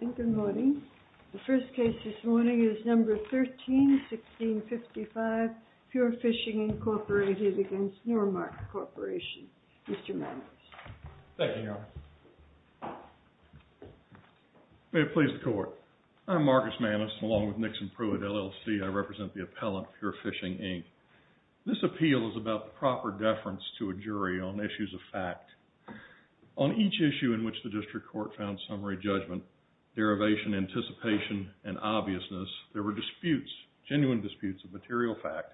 And good morning. The first case this morning is number 13-1655, Pure Fishing, Inc. v. Normark Corporation. Mr. Maness. Thank you, Your Honor. May it please the Court. I'm Marcus Maness, along with Nixon Pruitt, LLC. I represent the appellant, Pure Fishing, Inc. This appeal is about the proper deference to a jury on issues of fact. On each issue in which the district court found summary judgment, derivation, anticipation, and obviousness, there were disputes, genuine disputes of material fact,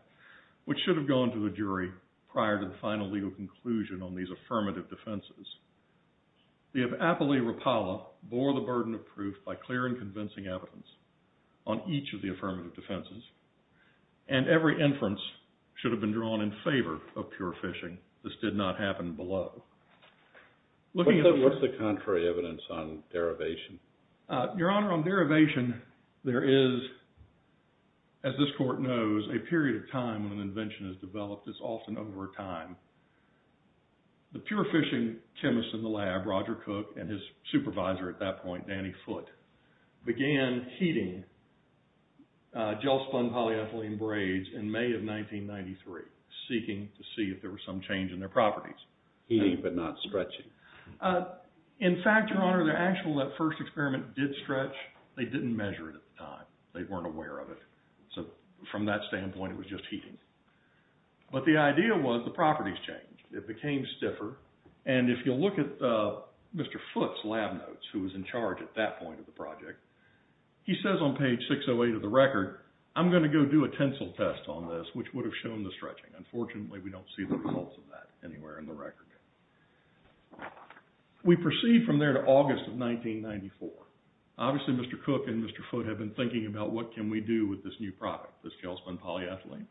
which should have gone to the jury prior to the final legal conclusion on these affirmative defenses. The appellee, Rapala, bore the burden of proof by clear and convincing evidence on each of the affirmative defenses, and every inference should have been drawn in favor of Pure Fishing. This did not happen below. What's the contrary evidence on derivation? Your Honor, on derivation, there is, as this Court knows, a period of time when an invention is developed. It's often over time. The Pure Fishing chemist in the lab, Roger Cook, and his supervisor at that point, Danny Foote, began heating gel-spun polyethylene braids in May of 1993, seeking to see if there was some change in their properties. Heating but not stretching. In fact, Your Honor, that first experiment did stretch. They didn't measure it at the time. They weren't aware of it. So from that standpoint, it was just heating. But the idea was the properties changed. It became stiffer, and if you look at Mr. Foote's lab notes, who was in charge at that point of the project, he says on page 608 of the record, I'm going to go do a tensile test on this, which would have shown the stretching. Unfortunately, we don't see the results of that anywhere in the record. We proceed from there to August of 1994. Obviously, Mr. Cook and Mr. Foote have been thinking about what can we do with this new product, this gel-spun polyethylene.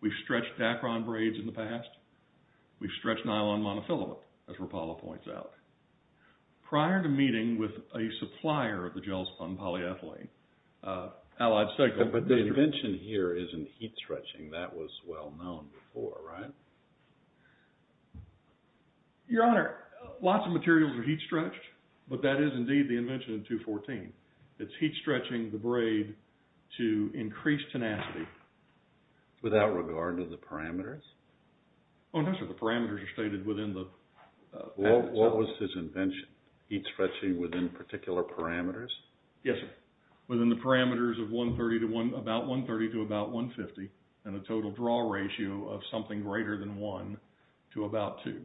We've stretched Dacron braids in the past. We've stretched nylon monofilament, as Rapala points out. Prior to meeting with a supplier of the gel-spun polyethylene, Allied Cycle… But the invention here isn't heat-stretching. That was well known before, right? Your Honor, lots of materials are heat-stretched, but that is indeed the invention of 214. It's heat-stretching the braid to increase tenacity. Without regard to the parameters? Oh, no, sir. The parameters are stated within the… What was his invention? Heat-stretching within particular parameters? Yes, sir. Within the parameters of about 130 to about 150, and a total draw ratio of something greater than 1 to about 2,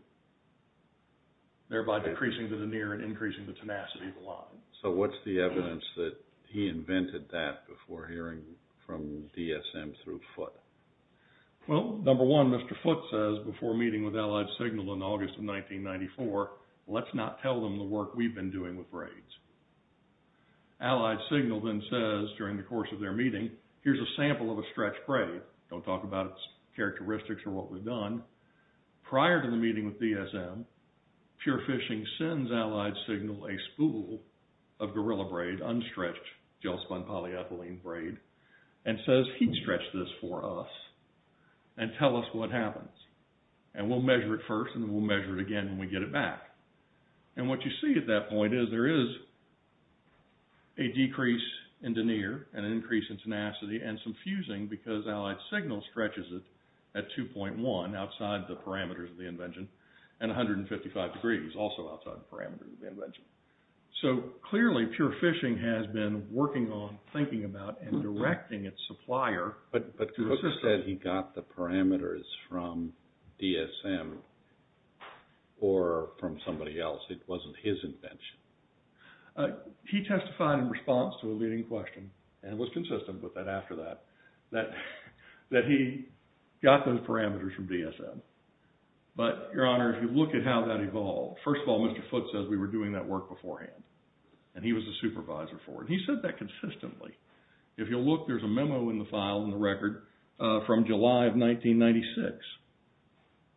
thereby decreasing to the near and increasing the tenacity of the line. So, what's the evidence that he invented that before hearing from DSM through Foote? Well, number one, Mr. Foote says before meeting with Allied Signal in August of 1994, let's not tell them the work we've been doing with braids. Allied Signal then says during the course of their meeting, here's a sample of a stretched braid. Don't talk about its characteristics or what we've done. Prior to the meeting with DSM, Pure Fishing sends Allied Signal a spool of gorilla braid, unstretched gel-spun polyethylene braid, and says heat-stretch this for us and tell us what happens. And we'll measure it first and we'll measure it again when we get it back. And what you see at that point is there is a decrease in denier, an increase in tenacity, and some fusing because Allied Signal stretches it at 2.1, outside the parameters of the invention, and 155 degrees, also outside the parameters of the invention. So, clearly Pure Fishing has been working on, thinking about, and directing its supplier… He said he got the parameters from DSM or from somebody else. It wasn't his invention. He testified in response to a leading question, and was consistent with that after that, that he got those parameters from DSM. But, Your Honor, if you look at how that evolved, first of all, Mr. Foote says we were doing that work beforehand, and he was the supervisor for it. He said that consistently. If you'll look, there's a memo in the file, in the record, from July of 1996,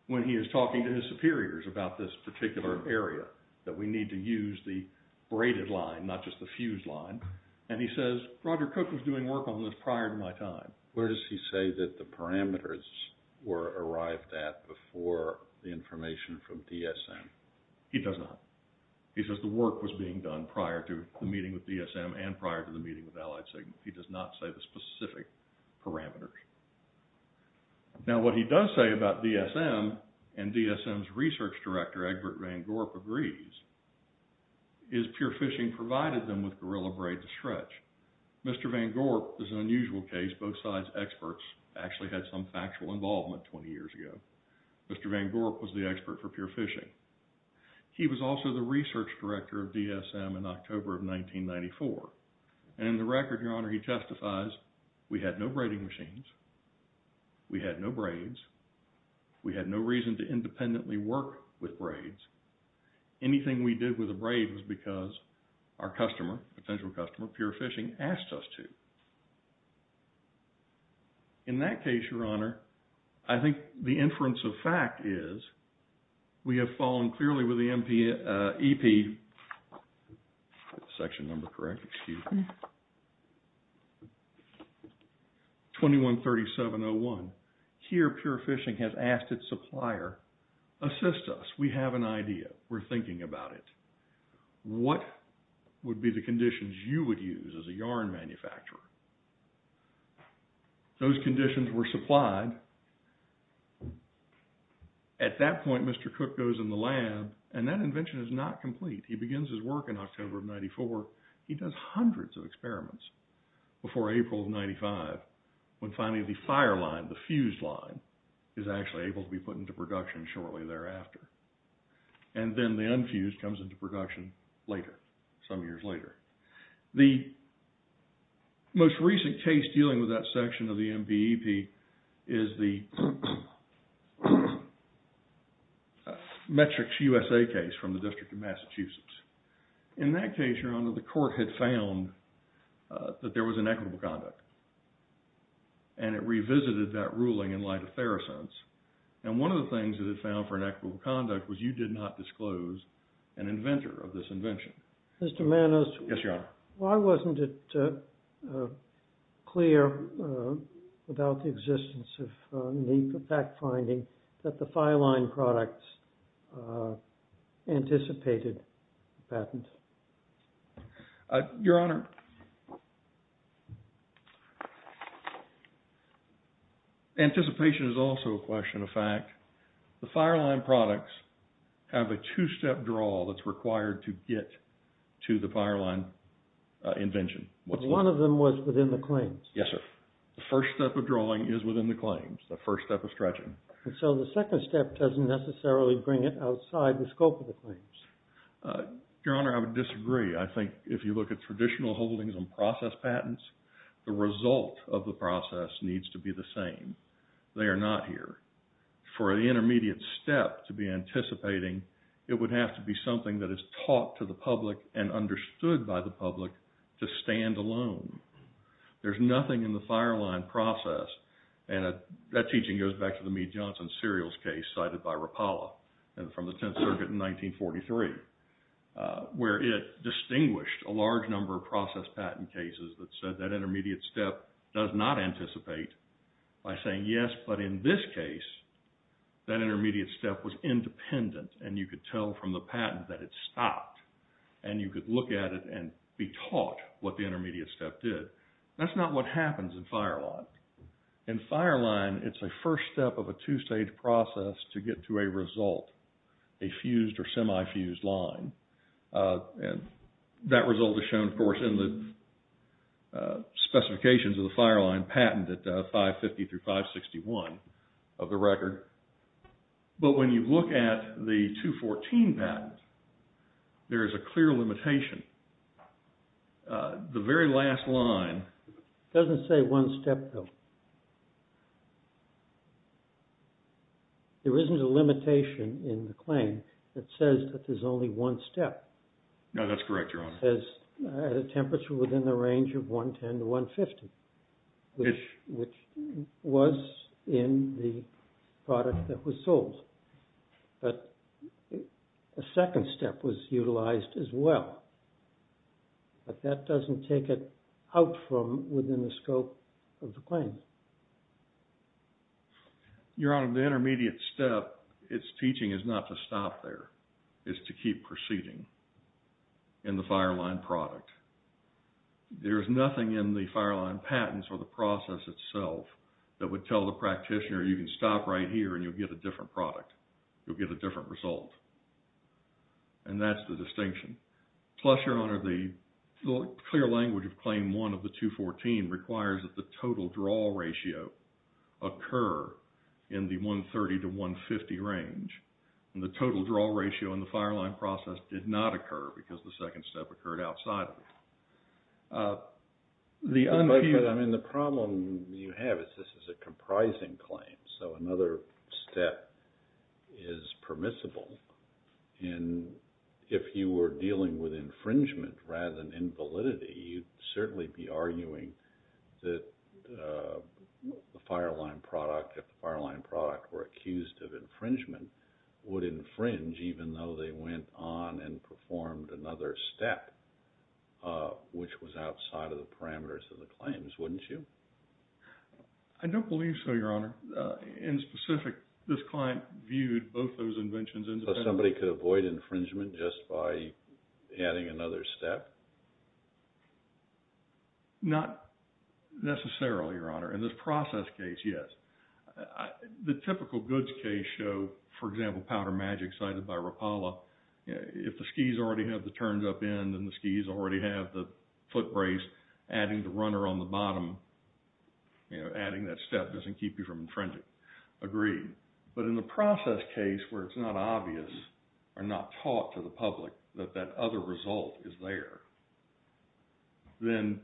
when he is talking to his superiors about this particular area, that we need to use the braided line, not just the fused line. And he says, Roger Cook was doing work on this prior to my time. Where does he say that the parameters were arrived at before the information from DSM? He does not. He says the work was being done prior to the meeting with DSM and prior to the meeting with Allied Sigma. He does not say the specific parameters. Now, what he does say about DSM, and DSM's research director, Egbert Van Gorp, agrees, is Pure Fishing provided them with gorilla braid to stretch. Mr. Van Gorp is an unusual case. Both sides' experts actually had some factual involvement 20 years ago. Mr. Van Gorp was the expert for Pure Fishing. He was also the research director of DSM in October of 1994. And in the record, Your Honor, he testifies, we had no braiding machines, we had no braids, we had no reason to independently work with braids. Anything we did with a braid was because our customer, potential customer, Pure Fishing, asked us to. In that case, Your Honor, I think the inference of fact is, we have fallen clearly with the EP, section number correct, excuse me, 213701. Here, Pure Fishing has asked its supplier, assist us, we have an idea, we're thinking about it. What would be the conditions you would use as a yarn manufacturer? Those conditions were supplied. At that point, Mr. Cook goes in the lab, and that invention is not complete. He begins his work in October of 94. He does hundreds of experiments before April of 95, when finally the fire line, the fused line, is actually able to be put into production shortly thereafter. And then the unfused comes into production later, some years later. The most recent case dealing with that section of the MBEP is the Metrics USA case from the District of Massachusetts. In that case, Your Honor, the court had found that there was inequitable conduct. And it revisited that ruling in light of Therosons. And one of the things that it found for inequitable conduct was you did not disclose an inventor of this invention. Mr. Manos. Yes, Your Honor. Why wasn't it clear about the existence of a NEPA fact finding that the fire line products anticipated patent? Your Honor, anticipation is also a question of fact. The fire line products have a two-step draw that's required to get to the fire line invention. One of them was within the claims. Yes, sir. The first step of drawing is within the claims, the first step of stretching. So the second step doesn't necessarily bring it outside the scope of the claims. Your Honor, I would disagree. I think if you look at traditional holdings and process patents, the result of the process needs to be the same. They are not here. For an intermediate step to be anticipating, it would have to be something that is taught to the public and understood by the public to stand alone. There's nothing in the fire line process, and that teaching goes back to the Meade-Johnson serials case cited by Rapala from the Tenth Circuit in 1943. Where it distinguished a large number of process patent cases that said that intermediate step does not anticipate by saying yes, but in this case, that intermediate step was independent, and you could tell from the patent that it stopped. And you could look at it and be taught what the intermediate step did. That's not what happens in fire line. In fire line, it's a first step of a two-stage process to get to a result, a fused or semi-fused line. That result is shown, of course, in the specifications of the fire line patent at 550 through 561 of the record. But when you look at the 214 patent, there is a clear limitation. The very last line... It doesn't say one step, though. There isn't a limitation in the claim that says that there's only one step. No, that's correct, Your Honor. There's a temperature within the range of 110 to 150, which was in the product that was sold. But a second step was utilized as well. But that doesn't take it out from within the scope of the claim. Your Honor, the intermediate step, its teaching is not to stop there. It's to keep proceeding in the fire line product. There's nothing in the fire line patents or the process itself that would tell the practitioner, you can stop right here and you'll get a different product. You'll get a different result. And that's the distinction. Plus, Your Honor, the clear language of Claim 1 of the 214 requires that the total draw ratio occur in the 130 to 150 range. And the total draw ratio in the fire line process did not occur because the second step occurred outside of it. I mean, the problem you have is this is a comprising claim. So another step is permissible. And if you were dealing with infringement rather than invalidity, you'd certainly be arguing that the fire line product, if the fire line product were accused of infringement, would infringe even though they went on and performed another step, which was outside of the parameters of the claims, wouldn't you? I don't believe so, Your Honor. In specific, this client viewed both those inventions independently. So somebody could avoid infringement just by adding another step? Not necessarily, Your Honor. In this process case, yes. The typical goods case show, for example, Powder Magic cited by Rapala, if the skis already have the turns up end and the skis already have the foot brace, adding the runner on the bottom, you know, adding that step doesn't keep you from infringing. Agreed. But in the process case where it's not obvious or not taught to the public that that other result is there, then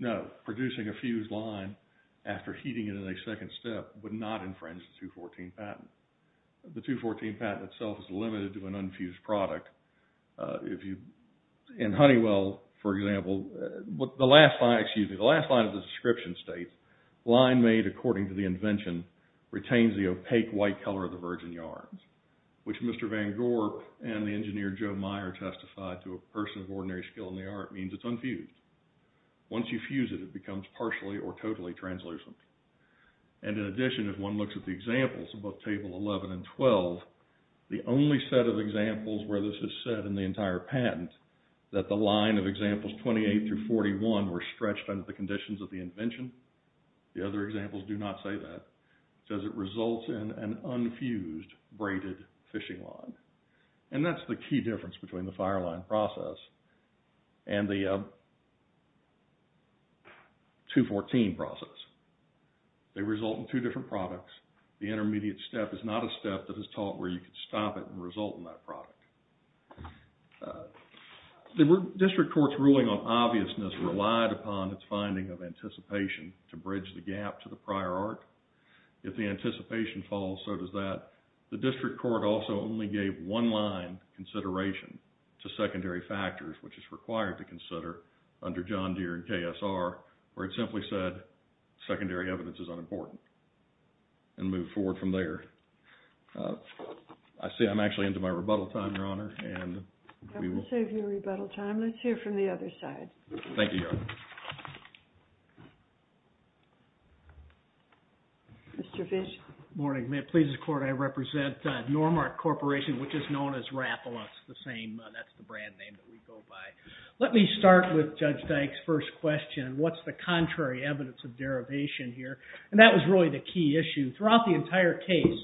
no, producing a fused line after heating it in a second step would not infringe the 214 patent. The 214 patent itself is limited to an unfused product. In Honeywell, for example, the last line of the description states, Line made according to the invention retains the opaque white color of the virgin yarns, which Mr. Van Gorp and the engineer Joe Meyer testified to a person of ordinary skill in the art means it's unfused. Once you fuse it, it becomes partially or totally translucent. And in addition, if one looks at the examples above Table 11 and 12, the only set of examples where this is said in the entire patent, that the line of examples 28 through 41 were stretched under the conditions of the invention, the other examples do not say that, says it results in an unfused braided fishing line. And that's the key difference between the FireLine process and the 214 process. They result in two different products. The intermediate step is not a step that is taught where you can stop it and result in that product. The district court's ruling on obviousness relied upon its finding of anticipation to bridge the gap to the prior art. If the anticipation falls, so does that. The district court also only gave one line consideration to secondary factors, which is required to consider under John Deere and KSR, where it simply said secondary evidence is unimportant and moved forward from there. I see I'm actually into my rebuttal time, Your Honor, and we will... I will save you rebuttal time. Let's hear from the other side. Thank you, Your Honor. Mr. Fish? Good morning. May it please the Court, I represent Normark Corporation, which is known as Rapalux, the same, that's the brand name that we go by. Let me start with Judge Dyke's first question, what's the contrary evidence of derivation here? And that was really the key issue. Throughout the entire case,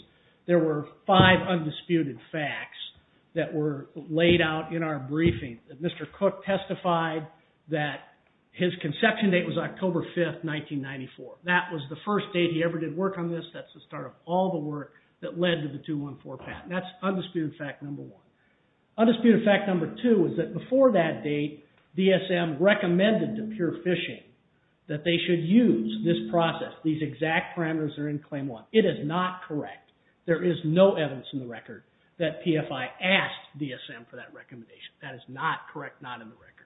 there were five undisputed facts that were laid out in our briefing. Mr. Cook testified that his conception date was October 5, 1994. That was the first date he ever did work on this. That's the start of all the work that led to the 214 patent. That's undisputed fact number one. Undisputed fact number two is that before that date, DSM recommended to Pure Fishing that they should use this process, these exact parameters that are in claim one. It is not correct. There is no evidence in the record that PFI asked DSM for that recommendation. That is not correct, not in the record.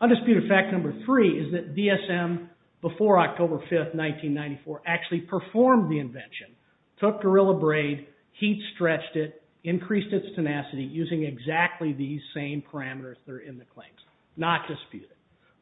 Undisputed fact number three is that DSM, before October 5, 1994, actually performed the invention, took Gorilla Braid, heat-stretched it, increased its tenacity using exactly these same parameters that are in the claims. Not disputed.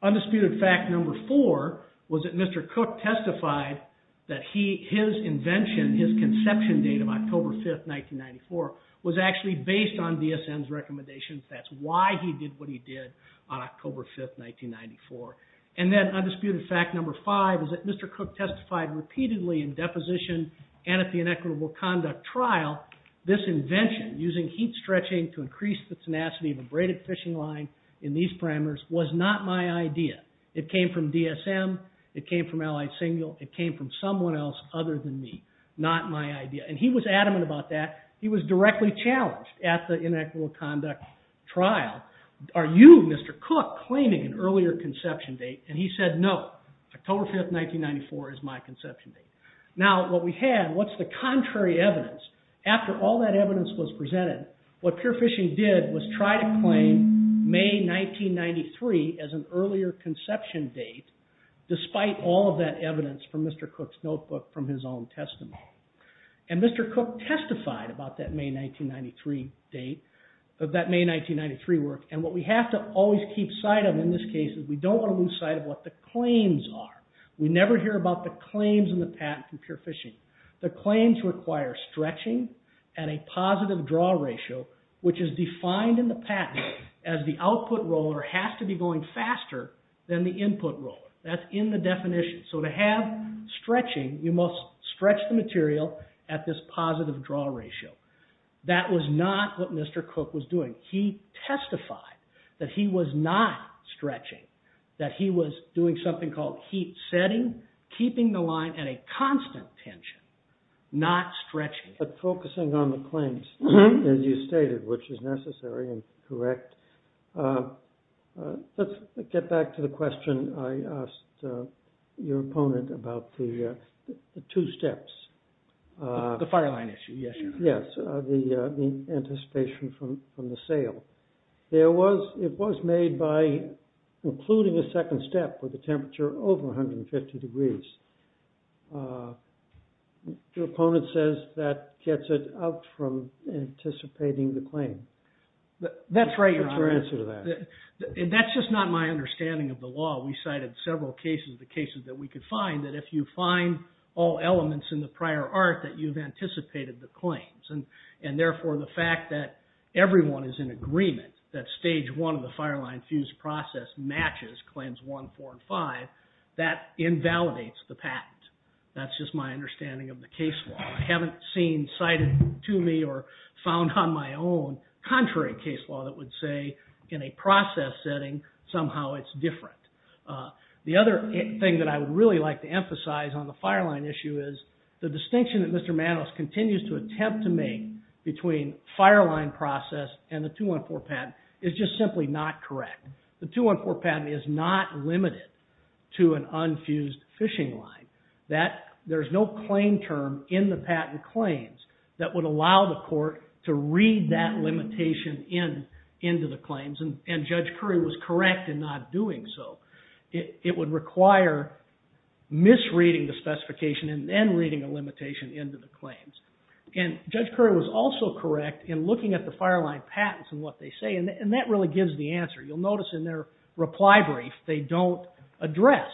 Undisputed fact number four was that Mr. Cook testified that his invention, his conception date of October 5, 1994, was actually based on DSM's recommendations. That's why he did what he did on October 5, 1994. And then undisputed fact number five is that Mr. Cook testified repeatedly in deposition and at the inequitable conduct trial this invention, using heat-stretching to increase the tenacity of a braided fishing line in these parameters, was not my idea. It came from DSM. It came from Allied Single. It came from someone else other than me. Not my idea. And he was adamant about that. He was directly challenged at the inequitable conduct trial, are you, Mr. Cook, claiming an earlier conception date? And he said no. October 5, 1994 is my conception date. Now, what we have, what's the contrary evidence? After all that evidence was presented, what Pure Fishing did was try to claim May 1993 as an earlier conception date, despite all of that evidence from Mr. Cook's notebook from his own testimony. And Mr. Cook testified about that May 1993 date, of that May 1993 work, and what we have to always keep sight of in this case is we don't want to lose sight of what the claims are. We never hear about the claims in the patent from Pure Fishing. The claims require stretching at a positive draw ratio, which is defined in the patent as the output roller has to be going faster than the input roller. That's in the definition. So to have stretching, you must stretch the material at this positive draw ratio. That was not what Mr. Cook was doing. He testified that he was not stretching, that he was doing something called heat setting, keeping the line at a constant tension, not stretching. But focusing on the claims, as you stated, which is necessary and correct. Let's get back to the question I asked your opponent about the two steps. The fire line issue, yes. Yes, the anticipation from the sale. It was made by including a second step with a temperature over 150 degrees. Your opponent says that gets it out from anticipating the claim. That's right, Your Honor. What's your answer to that? That's just not my understanding of the law. We cited several cases, the cases that we could find, that if you find all elements in the prior art, that you've anticipated the claims. And therefore, the fact that everyone is in agreement, that stage one of the fire line fused process matches claims one, four, and five, that invalidates the patent. That's just my understanding of the case law. I haven't seen, cited to me, or found on my own, contrary case law that would say in a process setting, somehow it's different. The other thing that I would really like to emphasize on the fire line issue is the distinction that Mr. Manos continues to attempt to make between fire line process and the 214 patent is just simply not correct. The 214 patent is not limited to an unfused fishing line. There's no claim term in the patent claims that would allow the court to read that limitation into the claims. And Judge Curry was correct in not doing so. It would require misreading the specification and then reading a limitation into the claims. And Judge Curry was also correct in looking at the fire line patents and what they say, and that really gives the answer. You'll notice in their reply brief, they don't address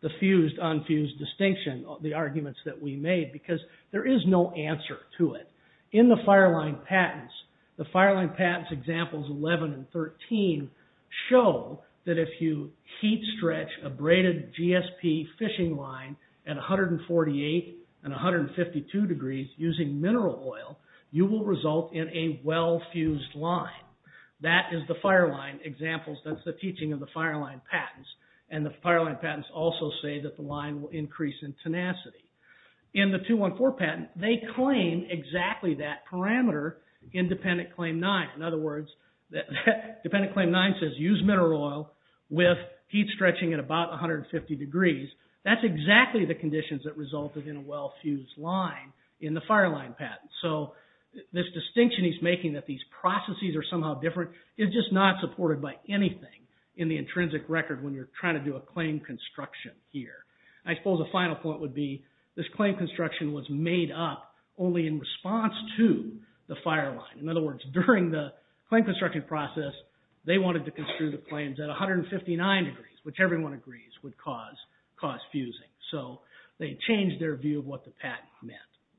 the fused-unfused distinction, the arguments that we made, because there is no answer to it. In the fire line patents, the fire line patents examples 11 and 13 show that if you heat stretch a braided GSP fishing line at 148 and 152 degrees using mineral oil, you will result in a well-fused line. That is the fire line examples, that's the teaching of the fire line patents. And the fire line patents also say that the line will increase in tenacity. In the 214 patent, they claim exactly that parameter in Dependent Claim 9. In other words, Dependent Claim 9 says use mineral oil with heat stretching at about 150 degrees. That's exactly the conditions that resulted in a well-fused line in the fire line patents. So this distinction he's making that these processes are somehow different is just not supported by anything in the intrinsic record when you're trying to do a claim construction here. I suppose a final point would be this claim construction was made up only in response to the fire line. In other words, during the claim construction process, they wanted to construe the claims at 159 degrees, which everyone agrees would cause fusing. So they changed their view of what the patent meant.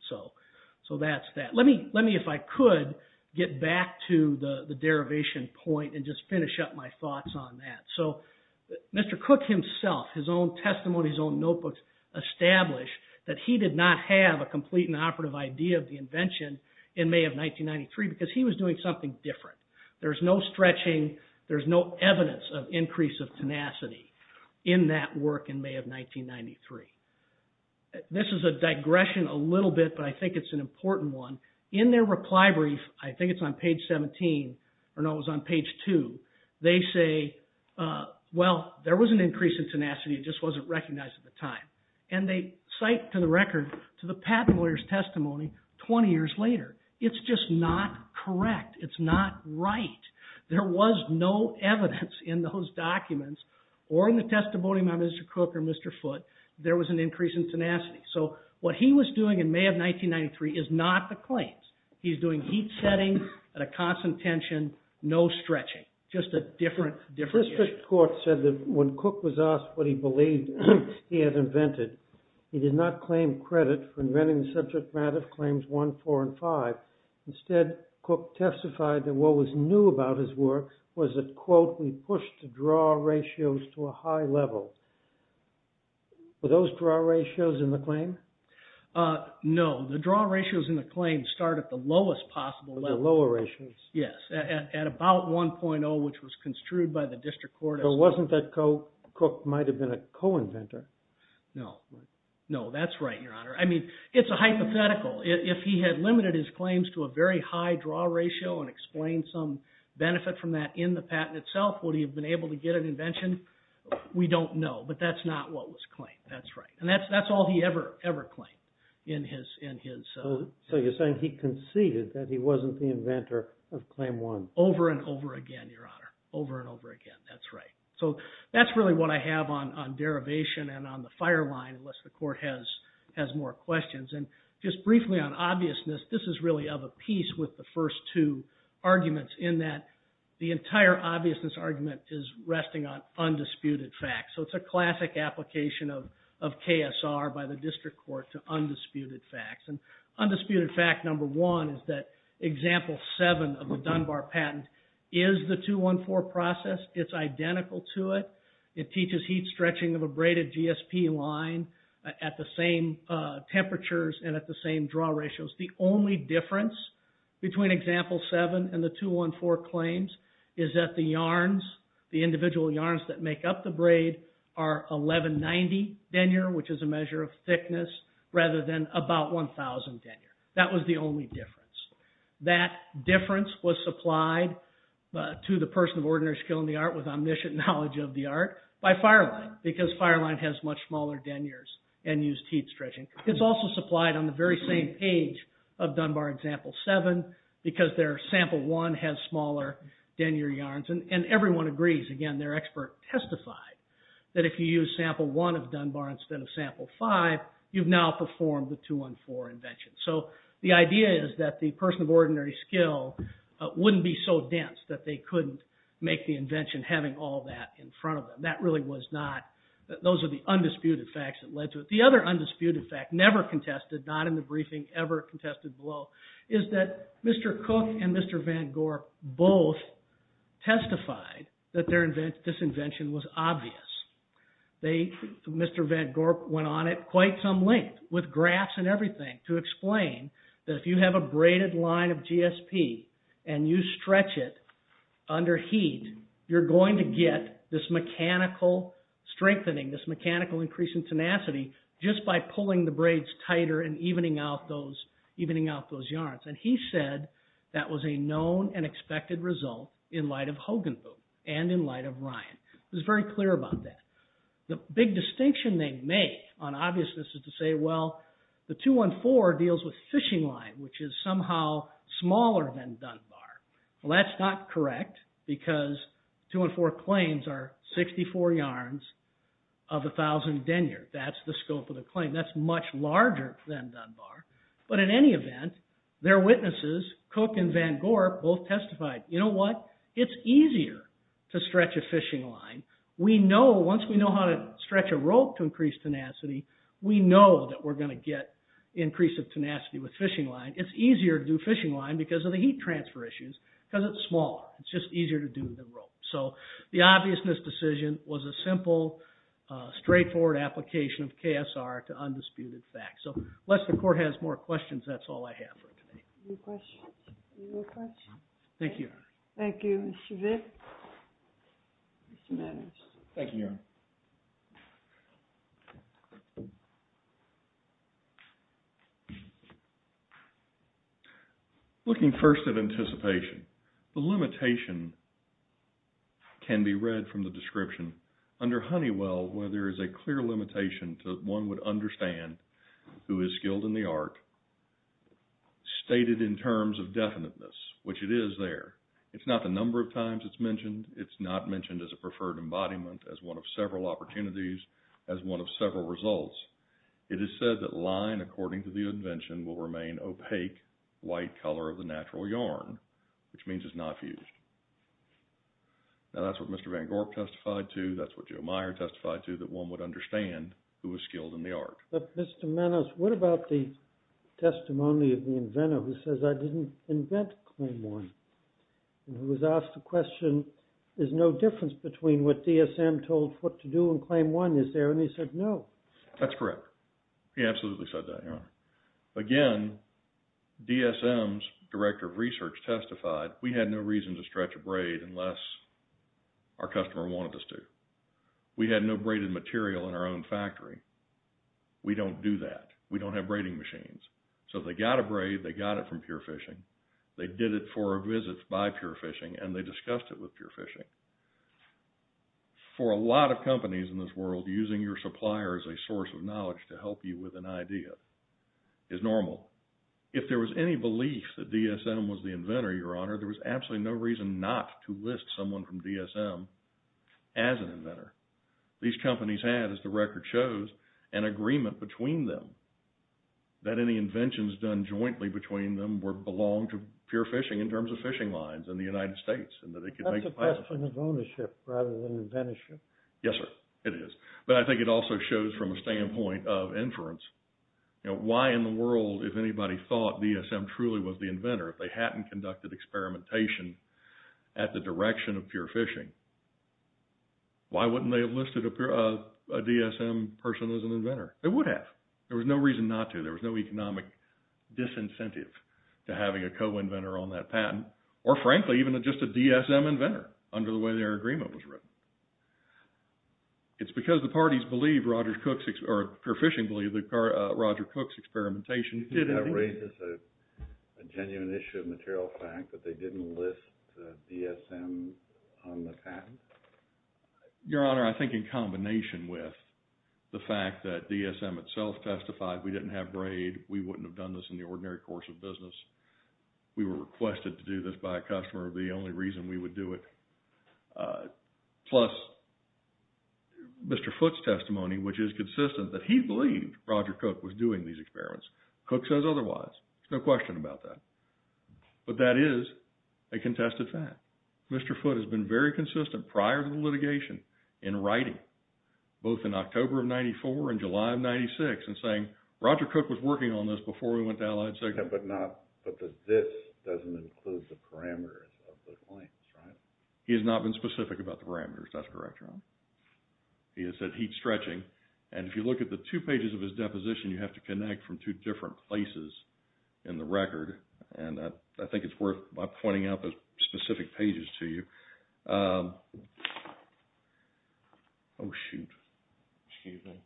So that's that. Let me, if I could, get back to the derivation point and just finish up my thoughts on that. So Mr. Cook himself, his own testimony, his own notebooks, established that he did not have a complete and operative idea of the invention in May of 1993 because he was doing something different. There's no stretching. There's no evidence of increase of tenacity in that work in May of 1993. This is a digression a little bit, but I think it's an important one. In their reply brief, I think it's on page 17, or no, it was on page 2, they say, well, there was an increase in tenacity. It just wasn't recognized at the time. And they cite to the record to the patent lawyer's testimony 20 years later. It's just not correct. It's not right. There was no evidence in those documents or in the testimony by Mr. Cook or Mr. Foote there was an increase in tenacity. So what he was doing in May of 1993 is not the claims. He's doing heat setting at a constant tension, no stretching, just a different issue. The district court said that when Cook was asked what he believed he had invented, he did not claim credit for inventing the subject matter of claims 1, 4, and 5. Instead, Cook testified that what was new about his work was that, quote, we pushed the draw ratios to a high level. Were those draw ratios in the claim? No. The draw ratios in the claim start at the lowest possible level. The lower ratios. Yes. At about 1.0, which was construed by the district court. So it wasn't that Cook might have been a co-inventor. No. No, that's right, Your Honor. I mean, it's a hypothetical. If he had limited his claims to a very high draw ratio and explained some benefit from that in the patent itself, would he have been able to get an invention? We don't know. But that's not what was claimed. That's right. And that's all he ever, ever claimed in his. So you're saying he conceded that he wasn't the inventor of claim 1. Over and over again, Your Honor. Over and over again. That's right. So that's really what I have on derivation and on the fire line, unless the court has more questions. And just briefly on obviousness, this is really of a piece with the first two arguments in that the entire obviousness argument is resting on undisputed facts. So it's a classic application of KSR by the district court to undisputed facts. And undisputed fact number one is that example 7 of the Dunbar patent is the 214 process. It's identical to it. It teaches heat stretching of a braided GSP line at the same temperatures and at the same draw ratios. The only difference between example 7 and the 214 claims is that the individual yarns that make up the braid are 1190 denier, which is a measure of thickness, rather than about 1,000 denier. That was the only difference. That difference was supplied to the person of ordinary skill in the art with omniscient knowledge of the art by FireLine, because FireLine has much smaller deniers and used heat stretching. It's also supplied on the very same page of Dunbar example 7 because their sample 1 has smaller denier yarns. And everyone agrees. Again, their expert testified that if you use sample 1 of Dunbar instead of sample 5, you've now performed the 214 invention. So the idea is that the person of ordinary skill wouldn't be so dense that they couldn't make the invention having all that in front of them. Those are the undisputed facts that led to it. The other undisputed fact, never contested, not in the briefing, ever contested below, is that Mr. Cook and Mr. Van Gorp both testified that their disinvention was obvious. Mr. Van Gorp went on at quite some length with graphs and everything to explain that if you have a braided line of GSP and you stretch it under heat, you're going to get this mechanical strengthening, this mechanical increase in tenacity, just by pulling the braids tighter and evening out those yarns. And he said that was a known and expected result in light of Hogenboom and in light of Ryan. He was very clear about that. The big distinction they make on obviousness is to say, well, the 214 deals with fishing line, which is somehow smaller than Dunbar. Well, that's not correct because 214 claims are 64 yarns of 1,000 denier. That's the scope of the claim. That's much larger than Dunbar. But in any event, their witnesses, Cook and Van Gorp, both testified, you know what? It's easier to stretch a fishing line. We know, once we know how to stretch a rope to increase tenacity, we know that we're going to get increase of tenacity with fishing line. It's easier to do fishing line because of the heat transfer issues because it's smaller. It's just easier to do the rope. So the obviousness decision was a simple, straightforward application of KSR to undisputed fact. So unless the court has more questions, that's all I have for today. Any questions? Any questions? Thank you, Your Honor. Thank you, Mr. Vick. Mr. Maddox. Thank you, Your Honor. Looking first at anticipation, the limitation can be read from the description. Under Honeywell, where there is a clear limitation to one would understand who is skilled in the art, stated in terms of definiteness, which it is there. It's not the number of times it's mentioned. It's not mentioned as a preferred embodiment, as one of several opportunities, as one of several results. It is said that line, according to the invention, will remain opaque, white color of the natural yarn, which means it's not fused. Now, that's what Mr. Van Gorp testified to. That's what Joe Meyer testified to, that one would understand who is skilled in the art. But, Mr. Maddox, what about the testimony of the inventor, who says, I didn't invent Claim 1, and who was asked the question, there's no difference between what DSM told Foote to do and Claim 1, is there? And he said, no. That's correct. He absolutely said that, Your Honor. Again, DSM's director of research testified, we had no reason to stretch a braid unless our customer wanted us to. We had no braided material in our own factory. We don't do that. We don't have braiding machines. So they got a braid, they got it from Pure Fishing, they did it for a visit by Pure Fishing, and they discussed it with Pure Fishing. For a lot of companies in this world, using your supplier as a source of knowledge to help you with an idea is normal. If there was any belief that DSM was the inventor, Your Honor, there was absolutely no reason not to list someone from DSM as an inventor. These companies had, as the record shows, an agreement between them that any inventions done jointly between them belonged to Pure Fishing in terms of fishing lines in the United States. That's a question of ownership rather than inventorship. Yes, sir, it is. But I think it also shows from a standpoint of inference why in the world, if anybody thought DSM truly was the inventor, if they hadn't conducted experimentation at the direction of Pure Fishing, why wouldn't they have listed a DSM person as an inventor? They would have. There was no reason not to. There was no economic disincentive to having a co-inventor on that patent, or frankly, even just a DSM inventor under the way their agreement was written. It's because the parties believe Roger Cook's, or Pure Fishing believe that Roger Cook's experimentation did indeed... That raises a genuine issue of material fact that they didn't list the DSM on the patent? Your Honor, I think in combination with the fact that DSM itself testified we didn't have grade, we wouldn't have done this in the ordinary course of business, we were requested to do this by a customer, the only reason we would do it, plus Mr. Foote's testimony, which is consistent that he believed Roger Cook was doing these experiments. Cook says otherwise. There's no question about that. But that is a contested fact. Mr. Foote has been very consistent prior to the litigation in writing, both in October of 94 and July of 96, in saying, Roger Cook was working on this before we went to Allied Cycles. But this doesn't include the parameters of those points, right? He has not been specific about the parameters, that's correct, Your Honor. He has said heat stretching, and if you look at the two pages of his deposition, you have to connect from two different places in the record, and I think it's worth my pointing out the specific pages to you. Oh, shoot. Excuse me.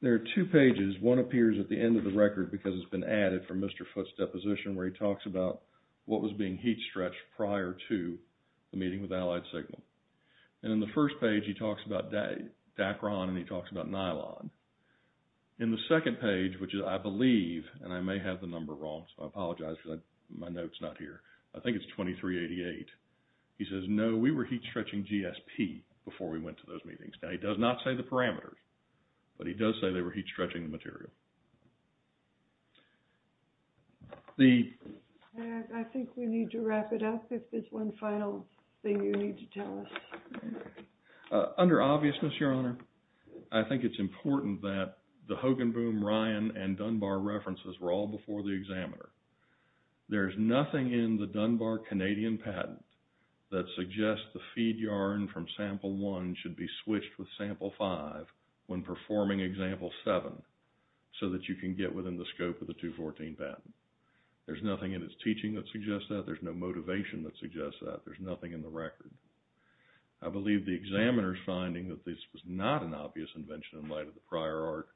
There are two pages, one appears at the end of the record because it's been added from Mr. Foote's deposition where he talks about what was being heat stretched prior to the meeting with Allied Signal. And in the first page, he talks about Dacron and he talks about nylon. In the second page, which I believe, and I may have the number wrong, so I apologize because my note's not here, I think it's 2388, he says, no, we were heat stretching GSP before we went to those meetings. Now, he does not say the parameters, but he does say they were heat stretching the material. I think we need to wrap it up if there's one final thing you need to tell us. Under obviousness, Your Honor, I think it's important that the Hogenboom, Ryan, and Dunbar references were all before the examiner. There's nothing in the Dunbar Canadian patent that suggests the feed yarn from sample one should be switched with sample five when performing example seven so that you can get within the scope of the 214 patent. There's nothing in its teaching that suggests that. There's no motivation that suggests that. There's nothing in the record. I believe the examiner's finding that this was not an obvious invention in light of the prior art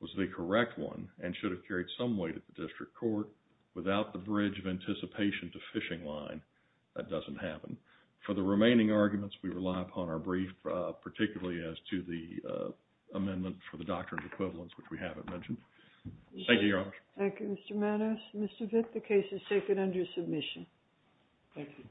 was the correct one and should have carried some weight at the district court. Without the bridge of anticipation to fishing line, that doesn't happen. For the remaining arguments, we rely upon our brief, particularly as to the amendment for the doctrine of equivalence, which we haven't mentioned. Thank you, Your Honor. Thank you, Mr. Manos. Mr. Vick, the case is taken under submission. Thank you.